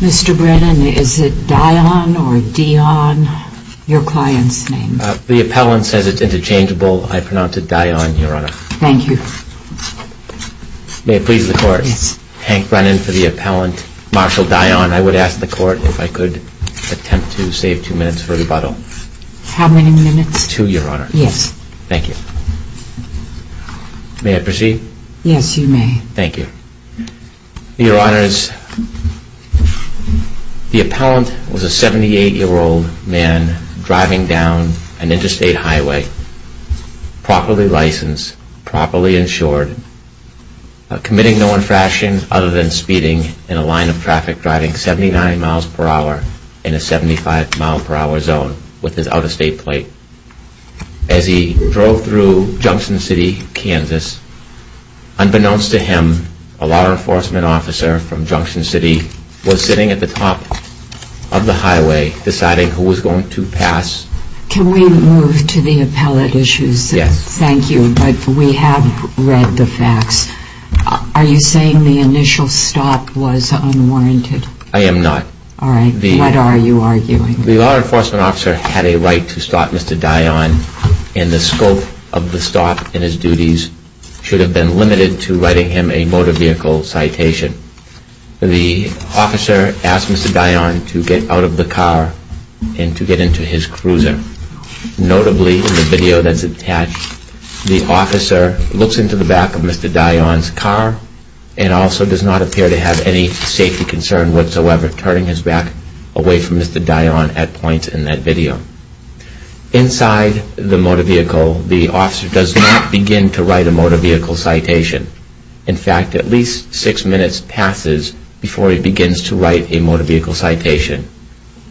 Mr. Brennan, is it Dion or Dion, your client's name? The appellant says it's interchangeable. I pronounce it Dion, your honor. Thank you. May it please the court. Yes. Mr. Brennan, for the appellant, Marshal Dion, I would ask the court if I could attempt to save two minutes for rebuttal. How many minutes? Two, your honor. Yes. Thank you. May I proceed? Yes, you may. Thank you. Your honors, the appellant was a 78-year-old man driving down an interstate highway, properly licensed, properly insured, committing no infractions other than speeding in a line of traffic driving 79 miles per hour in a 75-mile-per-hour zone with his out-of-state plate as he drove through Junction City, Kansas. Unbeknownst to him, a law enforcement officer from Junction City was sitting at the top of the highway deciding who was going to pass. Can we move to the appellant issues? Yes. Thank you. But we have read the facts. Are you saying the initial stop was unwarranted? I am not. All right. What are you arguing? The law enforcement officer had a right to stop Mr. Dion, and the scope of the stop in his duties should have been limited to writing him a motor vehicle citation. The officer asked Mr. Dion to get out of the car and to get into his cruiser. Notably, in the video that's attached, the officer looks into the back of Mr. Dion's car and also does not appear to have any safety concern whatsoever, turning his back away from Mr. Dion at points in that video. Inside the motor vehicle, the officer does not begin to write a motor vehicle citation. In fact, at least six minutes passes before he begins to write a motor vehicle citation.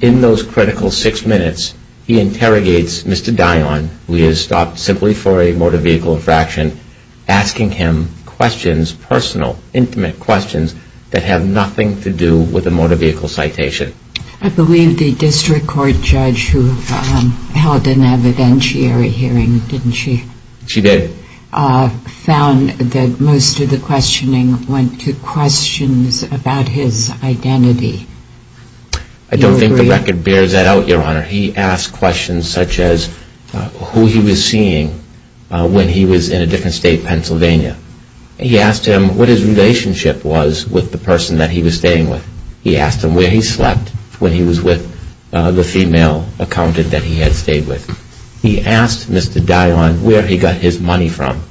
In those critical six minutes, he interrogates Mr. Dion, who he has stopped simply for a motor vehicle infraction, asking him questions, personal, intimate questions that have nothing to do with a motor vehicle citation. I believe the district court judge who held an evidentiary hearing, didn't she? She did. She found that most of the questioning went to questions about his identity. I don't think the record bears that out, Your Honor. He asked questions such as who he was seeing when he was in a different state, Pennsylvania. He asked him what his relationship was with the person that he was staying with. He asked him where he slept when he was with the female accountant that he had stayed with. He asked Mr. Dion where he got his money from.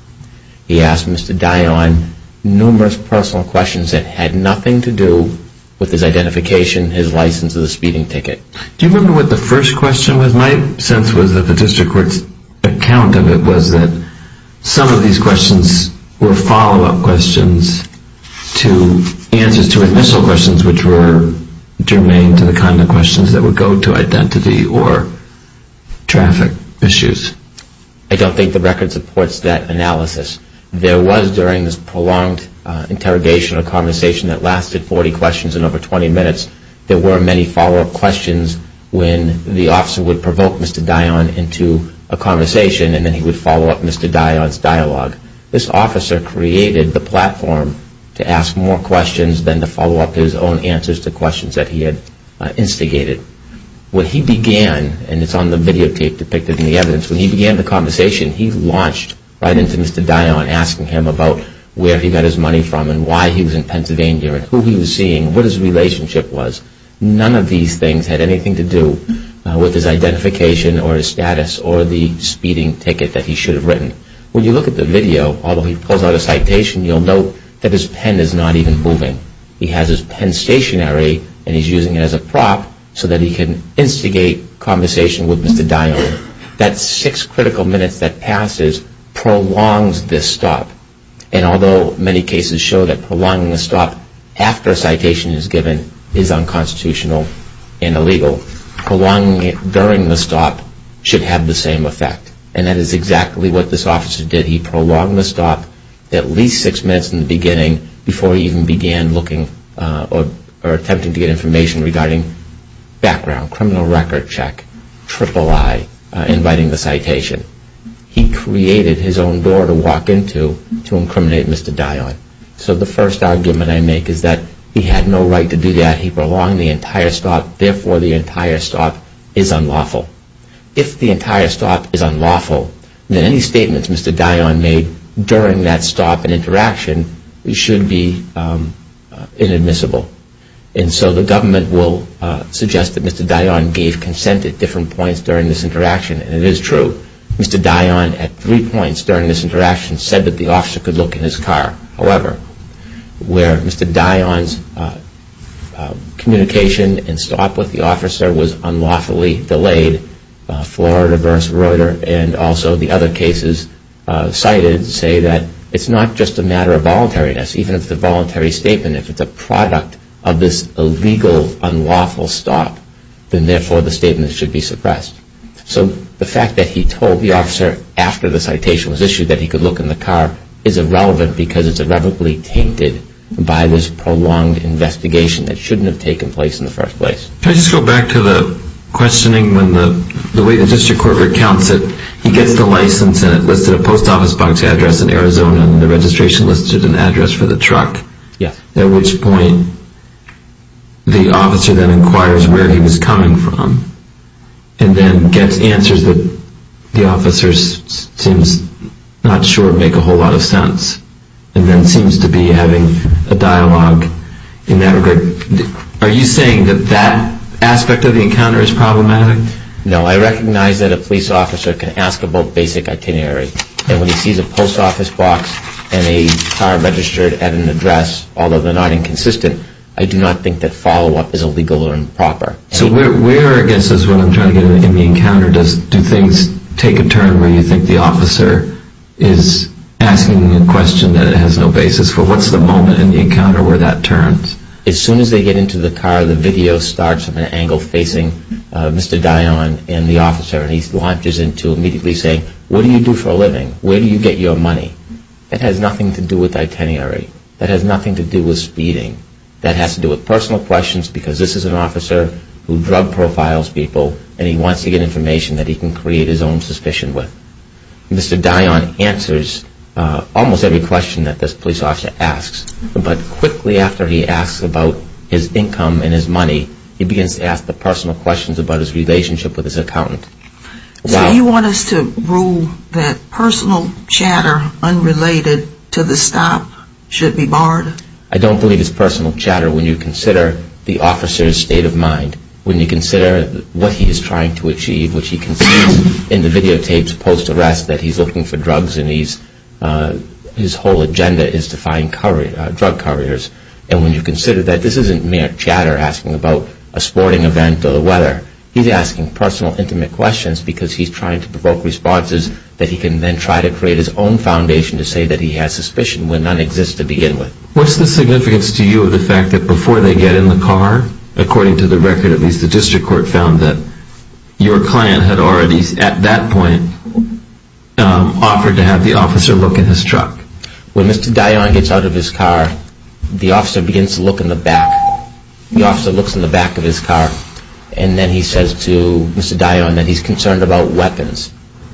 He asked Mr. Dion numerous personal questions that had nothing to do with his identification, his license, or the speeding ticket. Do you remember what the first question was? My sense was that the district court's account of it was that some of these questions were follow-up questions to answers to initial questions which were germane to the kind of questions that would go to identity or traffic issues. I don't think the record supports that analysis. There was during this prolonged interrogation or conversation that lasted 40 questions and over 20 minutes, there were many follow-up questions when the officer would provoke Mr. Dion into a conversation and then he would follow up Mr. Dion's dialogue. This officer created the platform to ask more questions than to follow up his own answers to questions that he had instigated. When he began, and it's on the videotape depicted in the evidence, when he began the conversation, he launched right into Mr. Dion asking him about where he got his money from and why he was in Pennsylvania and who he was seeing, what his relationship was. None of these things had anything to do with his identification or his status or the speeding ticket that he should have written. When you look at the video, although he pulls out a citation, you'll note that his pen is not even moving. He has his pen stationary and he's using it as a prop so that he can instigate conversation with Mr. Dion. That six critical minutes that passes prolongs this stop. And although many cases show that prolonging the stop after a citation is given is unconstitutional and illegal, prolonging it during the stop should have the same effect. And that is exactly what this officer did. He prolonged the stop at least six minutes in the beginning before he even began looking or attempting to get information regarding background, criminal record check, III, inviting the citation. He created his own door to walk into to incriminate Mr. Dion. So the first argument I make is that he had no right to do that. He prolonged the entire stop. Therefore, the entire stop is unlawful. If the entire stop is unlawful, then any statements Mr. Dion made during that stop and interaction should be inadmissible. And so the government will suggest that Mr. Dion gave consent at different points during this interaction. And it is true. Mr. Dion at three points during this interaction said that the officer could look in his car. However, where Mr. Dion's communication and stop with the officer was unlawfully delayed, Florida v. Reuter and also the other cases cited say that it's not just a matter of voluntariness. Even if it's a voluntary statement, if it's a product of this illegal, unlawful stop, then therefore the statement should be suppressed. So the fact that he told the officer after the citation was issued that he could look in the car is irrelevant because it's irrevocably tainted by this prolonged investigation that shouldn't have taken place in the first place. Can I just go back to the questioning when the way the district court recounts it, he gets the license and it listed a post office box address in Arizona and the registration listed an address for the truck. At which point the officer then inquires where he was coming from and then gets answers that the officer seems not sure make a whole lot of sense. So that aspect of the encounter is problematic? No. I recognize that a police officer can ask about basic itinerary. And when he sees a post office box and a car registered at an address, although they're not inconsistent, I do not think that follow-up is illegal or improper. So where, I guess, is what I'm trying to get at in the encounter, do things take a turn where you think the officer is asking a question that it has no basis for? What's the moment in the encounter where that turns? As soon as they get into the car, the video starts from an angle facing Mr. Dionne and the officer and he launches into immediately saying, what do you do for a living? Where do you get your money? That has nothing to do with itinerary. That has nothing to do with speeding. That has to do with personal questions because this is an officer who drug profiles people and he wants to get information that he can create his own suspicion with. Mr. Dionne answers almost every question that this police officer asks. But quickly after he asks about his income and his money, he begins to ask the personal questions about his relationship with his accountant. So you want us to rule that personal chatter unrelated to the stop should be barred? I don't believe it's personal chatter when you consider the officer's state of mind, when you consider what he is trying to achieve, which he concedes in the videotapes post-arrest that he's looking for drugs and his whole agenda is to find drug couriers. And when you consider that, this isn't mere chatter asking about a sporting event or the weather. He's asking personal intimate questions because he's trying to provoke responses that he can then try to create his own foundation to say that he has suspicion when none exists to begin with. What's the significance to you of the fact that before they get in the car, according to the record, at least the district court found that your client had already at that point offered to have the officer look in his truck? When Mr. Dionne gets out of his car, the officer begins to look in the back. The officer looks in the back of his car and then he says to Mr. Dionne that he's concerned about weapons.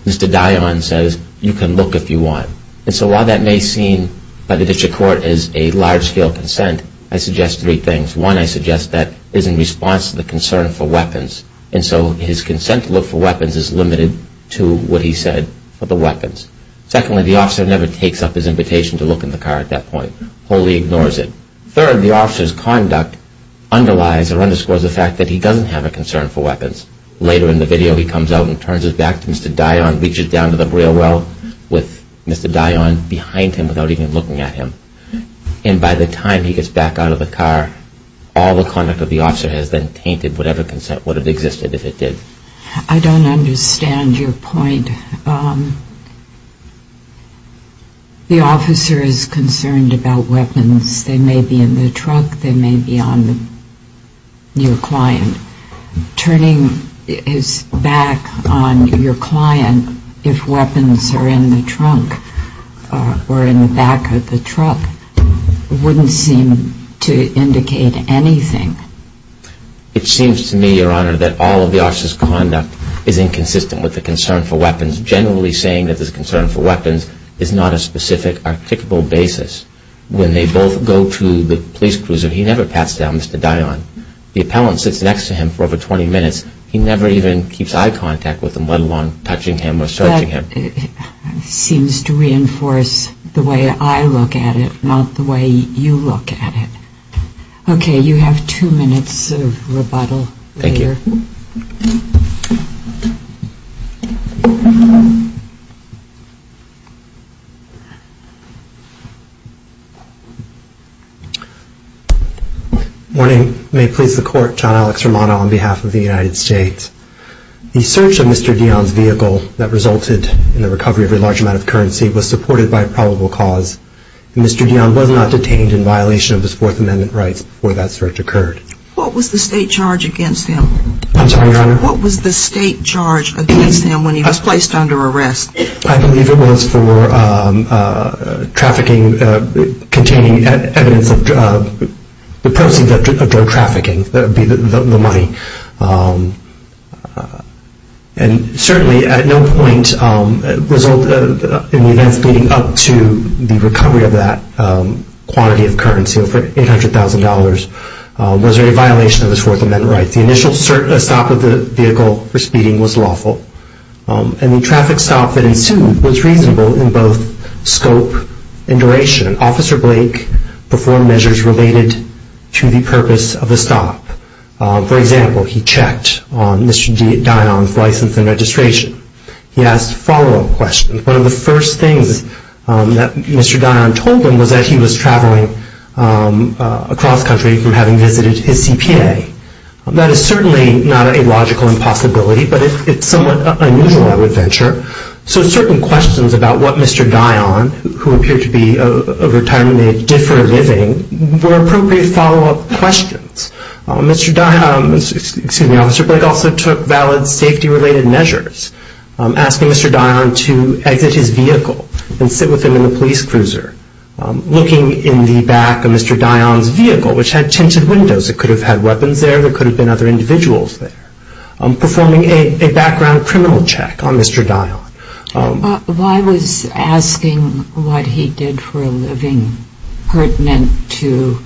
Mr. Dionne says, you can look if you want. And so while that may seem by the district field consent, I suggest three things. One, I suggest that is in response to the concern for weapons. And so his consent to look for weapons is limited to what he said for the weapons. Secondly, the officer never takes up his invitation to look in the car at that point. Wholly ignores it. Third, the officer's conduct underlies or underscores the fact that he doesn't have a concern for weapons. Later in the video, he comes out and turns his back to Mr. Dionne, reaches down to the rear well with Mr. Dionne behind him without even looking at him. And by the time he gets back out of the car, all the conduct of the officer has then tainted whatever consent would have existed if it did. I don't understand your point. The officer is concerned about weapons. They may be in the truck. They may be on your client. Turning his back on your client if weapons are in the trunk or in the back of the truck wouldn't seem to indicate anything. It seems to me, Your Honor, that all of the officer's conduct is inconsistent with the concern for weapons. Generally saying that there's a concern for weapons is not a specific articulable basis. When they both go to the police cruiser, he never pats down Mr. Dionne. The appellant sits next to him for over 20 minutes. He never even keeps eye contact with him, let alone touching him or searching him. That seems to reinforce the way I look at it, not the way you look at it. Okay, you have two minutes of rebuttal later. Thank you. Good morning. May it please the Court, John Alex Romano on behalf of the United States. The search of Mr. Dionne's vehicle that resulted in the recovery of a large amount of currency was supported by a probable cause. Mr. Dionne was not detained in violation of his Fourth Amendment rights before that search occurred. What was the state charge against him? I'm sorry, Your Honor? What was the state charge against him when he was placed under arrest? I believe it was for trafficking, containing evidence of the proceeds of drug trafficking, that would be the money. And certainly, at no point did it result in the events leading up to the recovery of that quantity of currency of $800,000. Was there a violation of his Fourth Amendment rights? The initial stop of the vehicle for speeding was lawful, and the traffic stop that ensued was reasonable in both scope and duration. Officer Blake performed measures related to the purpose of the stop. For example, he checked on Mr. Dionne's license and registration. He asked follow-up questions. One of the first things that Mr. Dionne told him was that he was traveling across country from having visited his CPA. That is certainly not a logical impossibility, but it's somewhat unusual, I would venture. So certain questions about what Mr. Dionne, who appeared to be a retirement agent, did for a living, were appropriate follow-up questions. Officer Blake also took valid safety-related measures, asking Mr. Dionne to exit his vehicle and sit with him in the police cruiser, looking in the back of Mr. Dionne's vehicle, which had tinted windows. It could have had weapons there. There could have been other individuals there. Performing a background criminal check on Mr. Dionne. Why was asking what he did for a living pertinent to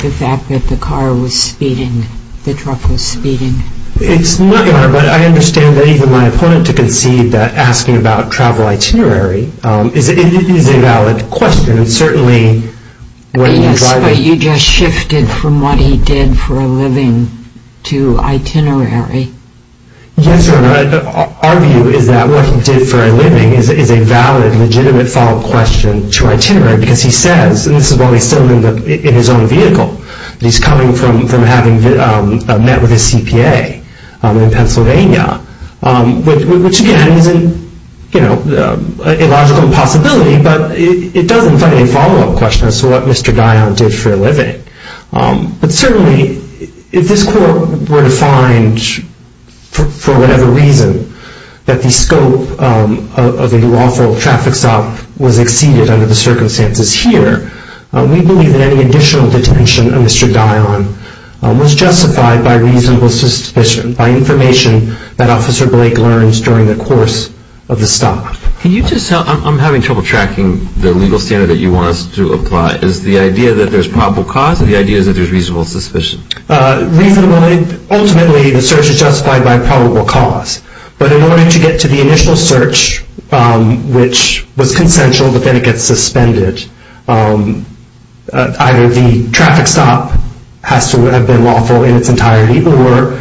the fact that the car was speeding, the truck was speeding? It's not your honor, but I understand that even my opponent to concede that asking about travel itinerary is a valid question. It's certainly what he was driving. Yes, but you just shifted from what he did for a living to itinerary. Yes, Your Honor. Our view is that what he did for a living is a valid, legitimate follow-up question to itinerary, because he says, and this is while he's still in his own vehicle, that he's coming from having met with his CPA in Pennsylvania, which again is an illogical impossibility, but it does invite a follow-up question as to what Mr. Dionne did for a living. But certainly, if this court were to find, for whatever reason, that the scope of a lawful traffic stop was exceeded under the circumstances here, we believe that any additional detention of Mr. Dionne was justified by reasonable suspicion, by information that Officer Blake learns during the course of the stop. I'm having trouble tracking the legal standard that you want us to apply. Is the idea that there's probable cause, or the idea that there's reasonable suspicion? Reasonably, ultimately, the search is justified by probable cause. But in order to get to the initial search, which was consensual, but then it gets suspended, either the traffic stop has to have been lawful in its entirety, or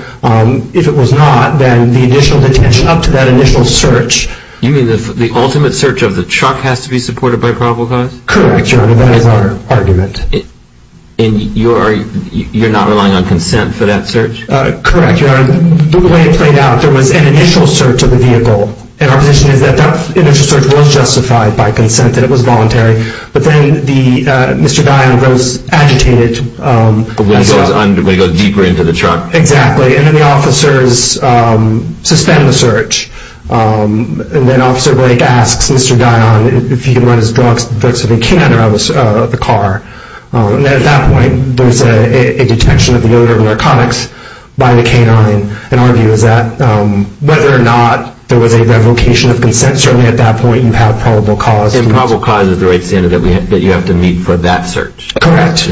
if it was not, then the additional detention up to that initial search... You mean the ultimate search of the truck has to be supported by probable cause? Correct, Your Honor. That is our argument. And you're not relying on consent for that search? Correct, Your Honor. The way it played out, there was an initial search of the vehicle. And our position is that that initial search was justified by consent, that it was voluntary. But then Mr. Dionne goes agitated... And goes deeper into the truck. Exactly. And then the officers suspend the search. And then Officer Blake asks Mr. Dionne if he can run his drugs if he can around the car. And at that point, there's a detection of the odor of narcotics by the canine. And our view is that whether or not there was a revocation of consent, certainly at that point you have probable cause. And probable cause is the right standard that you have to meet for that search? Correct.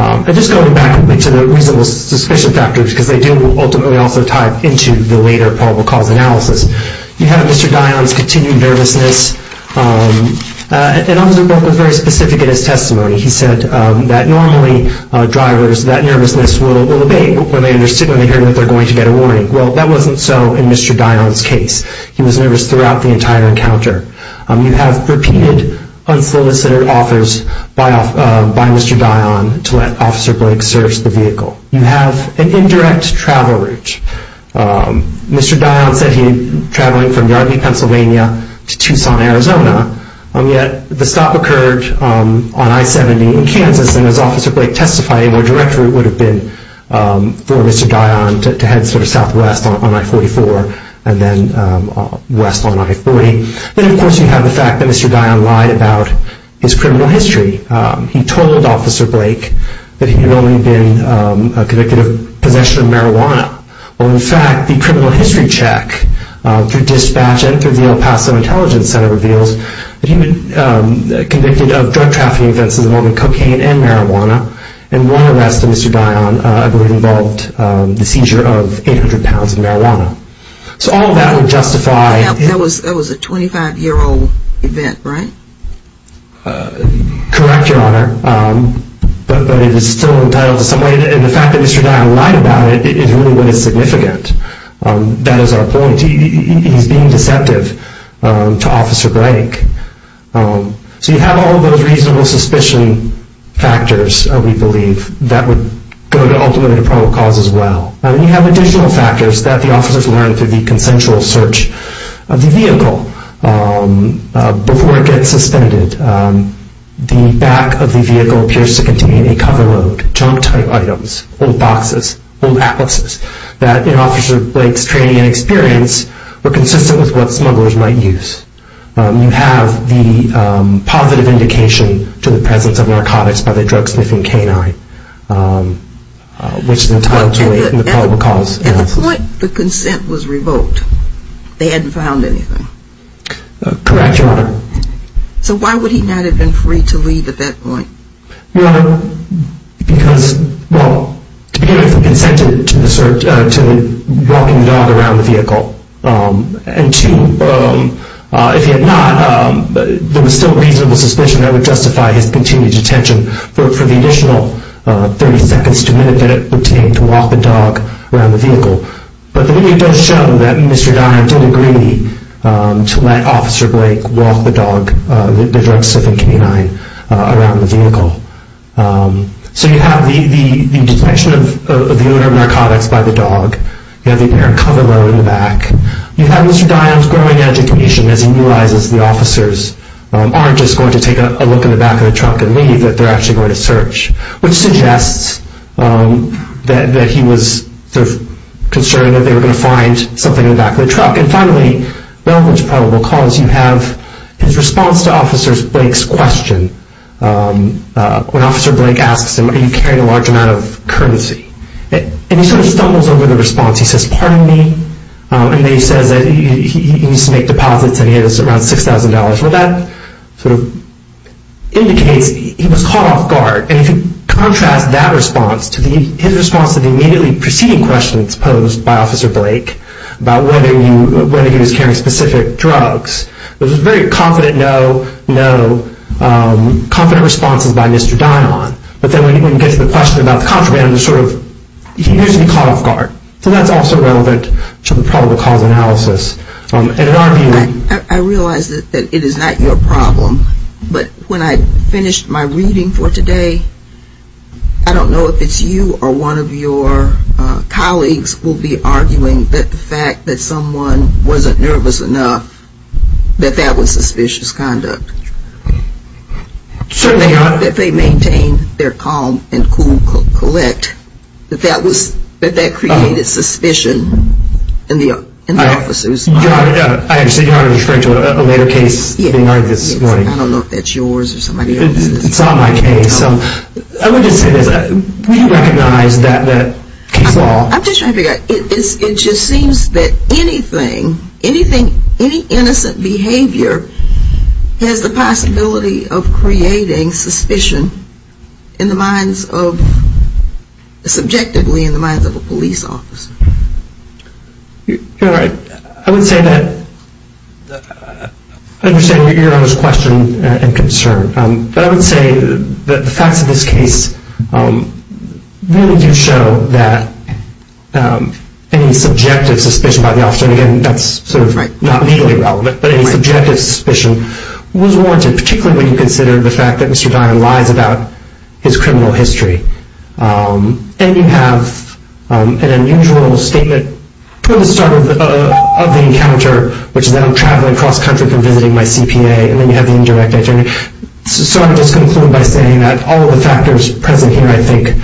And just going back to the reasonable suspicion factors, because they do ultimately also tie into the later probable cause analysis. You have Mr. Dionne's continued nervousness. And Officer Blake was very specific in his testimony. He said that normally drivers, that nervousness will abate when they understand that they're going to get a warning. Well, that wasn't so in Mr. Dionne's case. He was nervous throughout the entire encounter. You have repeated unsolicited offers by Mr. Dionne to let Officer Blake search the vehicle. You have an indirect travel route. Mr. Dionne said he was traveling from Yardley, Pennsylvania to Tucson, Arizona. And yet the stop occurred on I-70 in Kansas. And as Officer Blake testified, a more direct route would have been for Mr. Dionne to head sort of southwest on I-44 and then west on I-40. Then of course you have the fact that Mr. Dionne lied about his criminal history. He told Officer Blake that he had only been convicted of possession of marijuana. Well, in fact, the criminal history check through dispatch and through the El Paso Intelligence Center reveals that he had been convicted of drug trafficking events involving cocaine and marijuana. And one arrest of Mr. Dionne would have involved the seizure of 800 pounds of marijuana. So all of that would justify... That was a 25-year-old event, right? Correct, Your Honor. But it is still entitled to some weight. And the fact that Mr. Dionne lied about it is really what is significant. That is our point. He's being deceptive to Officer Blake. So you have all of those reasonable suspicion factors, we believe, that would go ultimately to pro cause as well. And you have additional factors that the officers learn through the consensual search of the When the vehicle is suspended, the back of the vehicle appears to contain a cover load, junk type items, old boxes, old atlases, that in Officer Blake's training and experience were consistent with what smugglers might use. You have the positive indication to the presence of narcotics by the drug-sniffing canine, which is entitled to a probable cause. At the point the consent was revoked, they hadn't found anything. Correct, Your Honor. So why would he not have been free to leave at that point? Your Honor, because, well, to begin with, he consented to walking the dog around the vehicle. And two, if he had not, there was still reasonable suspicion that would justify his continued detention for the additional 30 seconds to a minute that it would take to walk the dog around the vehicle. But the video does show that Mr. Dion did agree to let Officer Blake walk the dog, the drug-sniffing canine, around the vehicle. So you have the detection of the odor of narcotics by the dog. You have the apparent cover load in the back. You have Mr. Dion's growing education as he realizes the officers aren't just going to take a look in the back of the trunk and leave, that they're actually going to search, which suggests that he was concerned that they were going to find something in the back of the truck. And finally, relevant to probable cause, you have his response to Officer Blake's question. When Officer Blake asks him, are you carrying a large amount of currency? And he sort of stumbles over the response. He says, pardon me? And then he says that he used to make deposits and he had around $6,000. Well, that sort of indicates he was caught off guard. And if you contrast that response to his response to the immediately preceding questions posed by Officer Blake about whether he was carrying specific drugs, it was a very confident no, no, confident responses by Mr. Dion. But then when you get to the question about the contraband, he's usually caught off guard. So that's also relevant to the probable cause analysis. I realize that it is not your problem, but when I finished my reading for today, I don't know if it's you or one of your colleagues will be arguing that the fact that someone wasn't nervous enough, that that was suspicious conduct. Certainly not. If they maintained their calm and cool collect, that that created suspicion in the officers. I understand you're referring to a later case being argued this morning. I don't know if that's yours or somebody else's. It's on my case. I would just say this. We recognize that flaw. I'm just trying to figure out. It just seems that anything, any innocent behavior has the possibility of creating suspicion in the minds of, subjectively in the minds of a police officer. I would say that, I understand your question and concern. But I would say that the facts of this case really do show that any subjective suspicion by the officer, and again, that's sort of not legally relevant, but any subjective suspicion was warranted, particularly when you consider the fact that Mr. Dion lies about his criminal history. And you have an unusual statement from the start of the encounter, which is that I'm traveling across country for visiting my CPA. And then you have the indirect attorney. So I'll just conclude by saying that all of the factors present here, I think,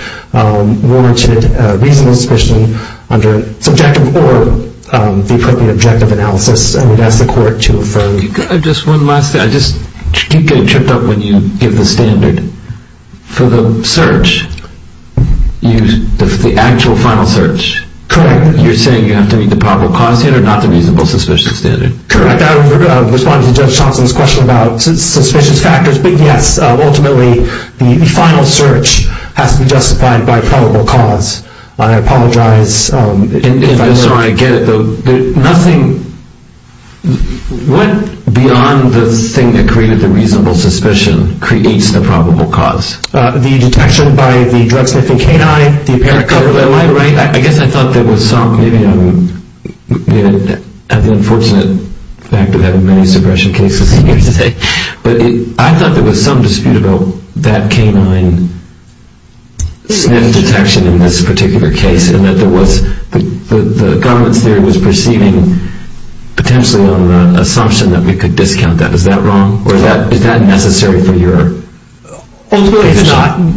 warranted reasonable suspicion under subjective or the appropriate objective analysis. I would ask the court to affirm. Just one last thing. I just keep getting tripped up when you give the standard for the search, the actual final search. Correct. You're saying you have to meet the probable cause standard, not the reasonable suspicion standard. Correct. I would respond to Judge Johnson's question about suspicious factors. But yes, ultimately, the final search has to be justified by probable cause. I apologize. If I'm sorry, I get it, though. Nothing went beyond the thing that created the reasonable suspicion creates the probable cause. The detection by the drug-sniffing canine, the apparent cover. Am I right? I guess I thought there was some, maybe I'm, the unfortunate fact of having many suppression cases here today, but I thought there was some dispute about that canine sniff detection in this particular case, and that there was, the government's theory was perceiving, potentially on the assumption that we could discount that. Is that wrong? Or is that necessary for your? Ultimately, it's not. We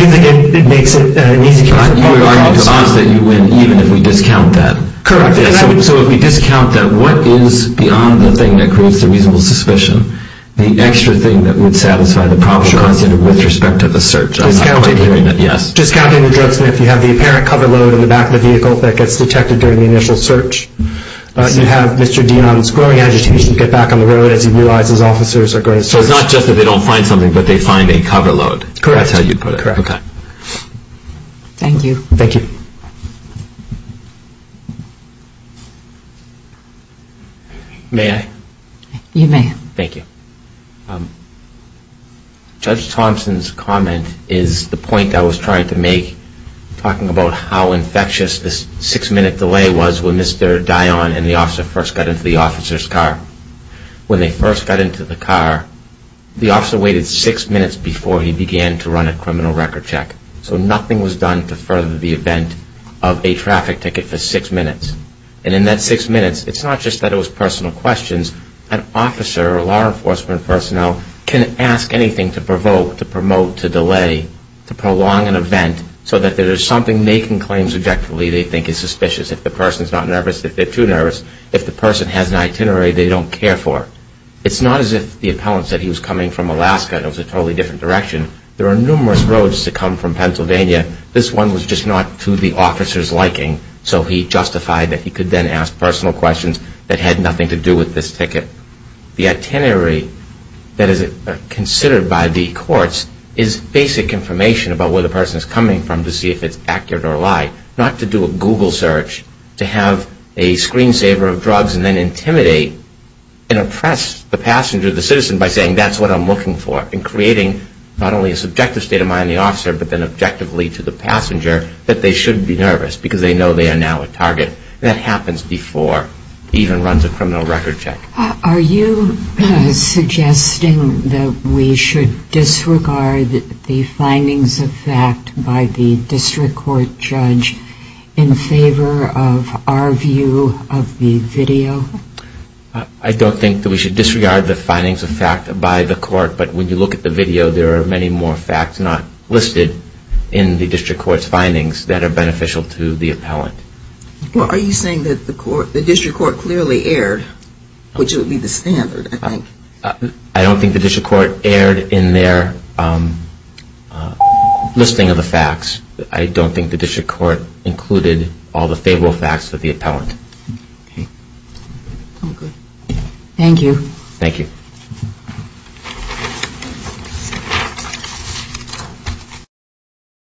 think it makes it easier for probable cause. But you argue to us that you win even if we discount that. Correct. So if we discount that, what is beyond the thing that creates the reasonable suspicion, the extra thing that would satisfy the probable cause standard with respect to the search? Discounting the drug-sniff, you have the apparent cover, the cover load in the back of the vehicle that gets detected during the initial search. You have Mr. Dean's growing agitation to get back on the road as he realizes officers are going to search. So it's not just that they don't find something, but they find a cover load. Correct. That's how you put it. Correct. Thank you. Thank you. May I? You may. Thank you. Judge Thompson's comment is the point I was trying to make, talking about how infectious this six-minute delay was when Mr. Dion and the officer first got into the officer's car. When they first got into the car, the officer waited six minutes before he began to run a criminal record check. So nothing was done to further the event of a traffic ticket for six minutes. And in that six minutes, it's not just that it was personal questions. An officer or law enforcement personnel can ask anything to provoke, to promote, to delay, to prolong an event so that there's something making claims objectively they think is suspicious. If the person's not nervous, if they're too nervous. If the person has an itinerary they don't care for. It's not as if the appellant said he was coming from Alaska and it was a totally different direction. There are numerous roads that come from Pennsylvania. This one was just not to the officer's liking. So he justified that he could then ask personal questions that had nothing to do with this ticket. The itinerary that is considered by the courts is basic information about where the person is coming from to see if it's accurate or a lie. Not to do a Google search, to have a screensaver of drugs and then intimidate and oppress the passenger, the citizen by saying that's what I'm looking for. And creating not only a subjective state of mind in the officer, but then objectively to the passenger that they shouldn't be nervous because they know they are now a target. That happens before he even runs a criminal record check. Are you suggesting that we should disregard the findings of fact by the district court judge in favor of our view of the video? I don't think that we should disregard the findings of fact by the court, but when you look at the video, there are many more facts not listed in the district court's findings that are beneficial to the appellant. Are you saying that the district court clearly erred? Which would be the standard, I think. I don't think the district court erred in their listing of the facts. I don't think the district court included all the favorable facts of the appellant. Thank you. Thank you. Thank you.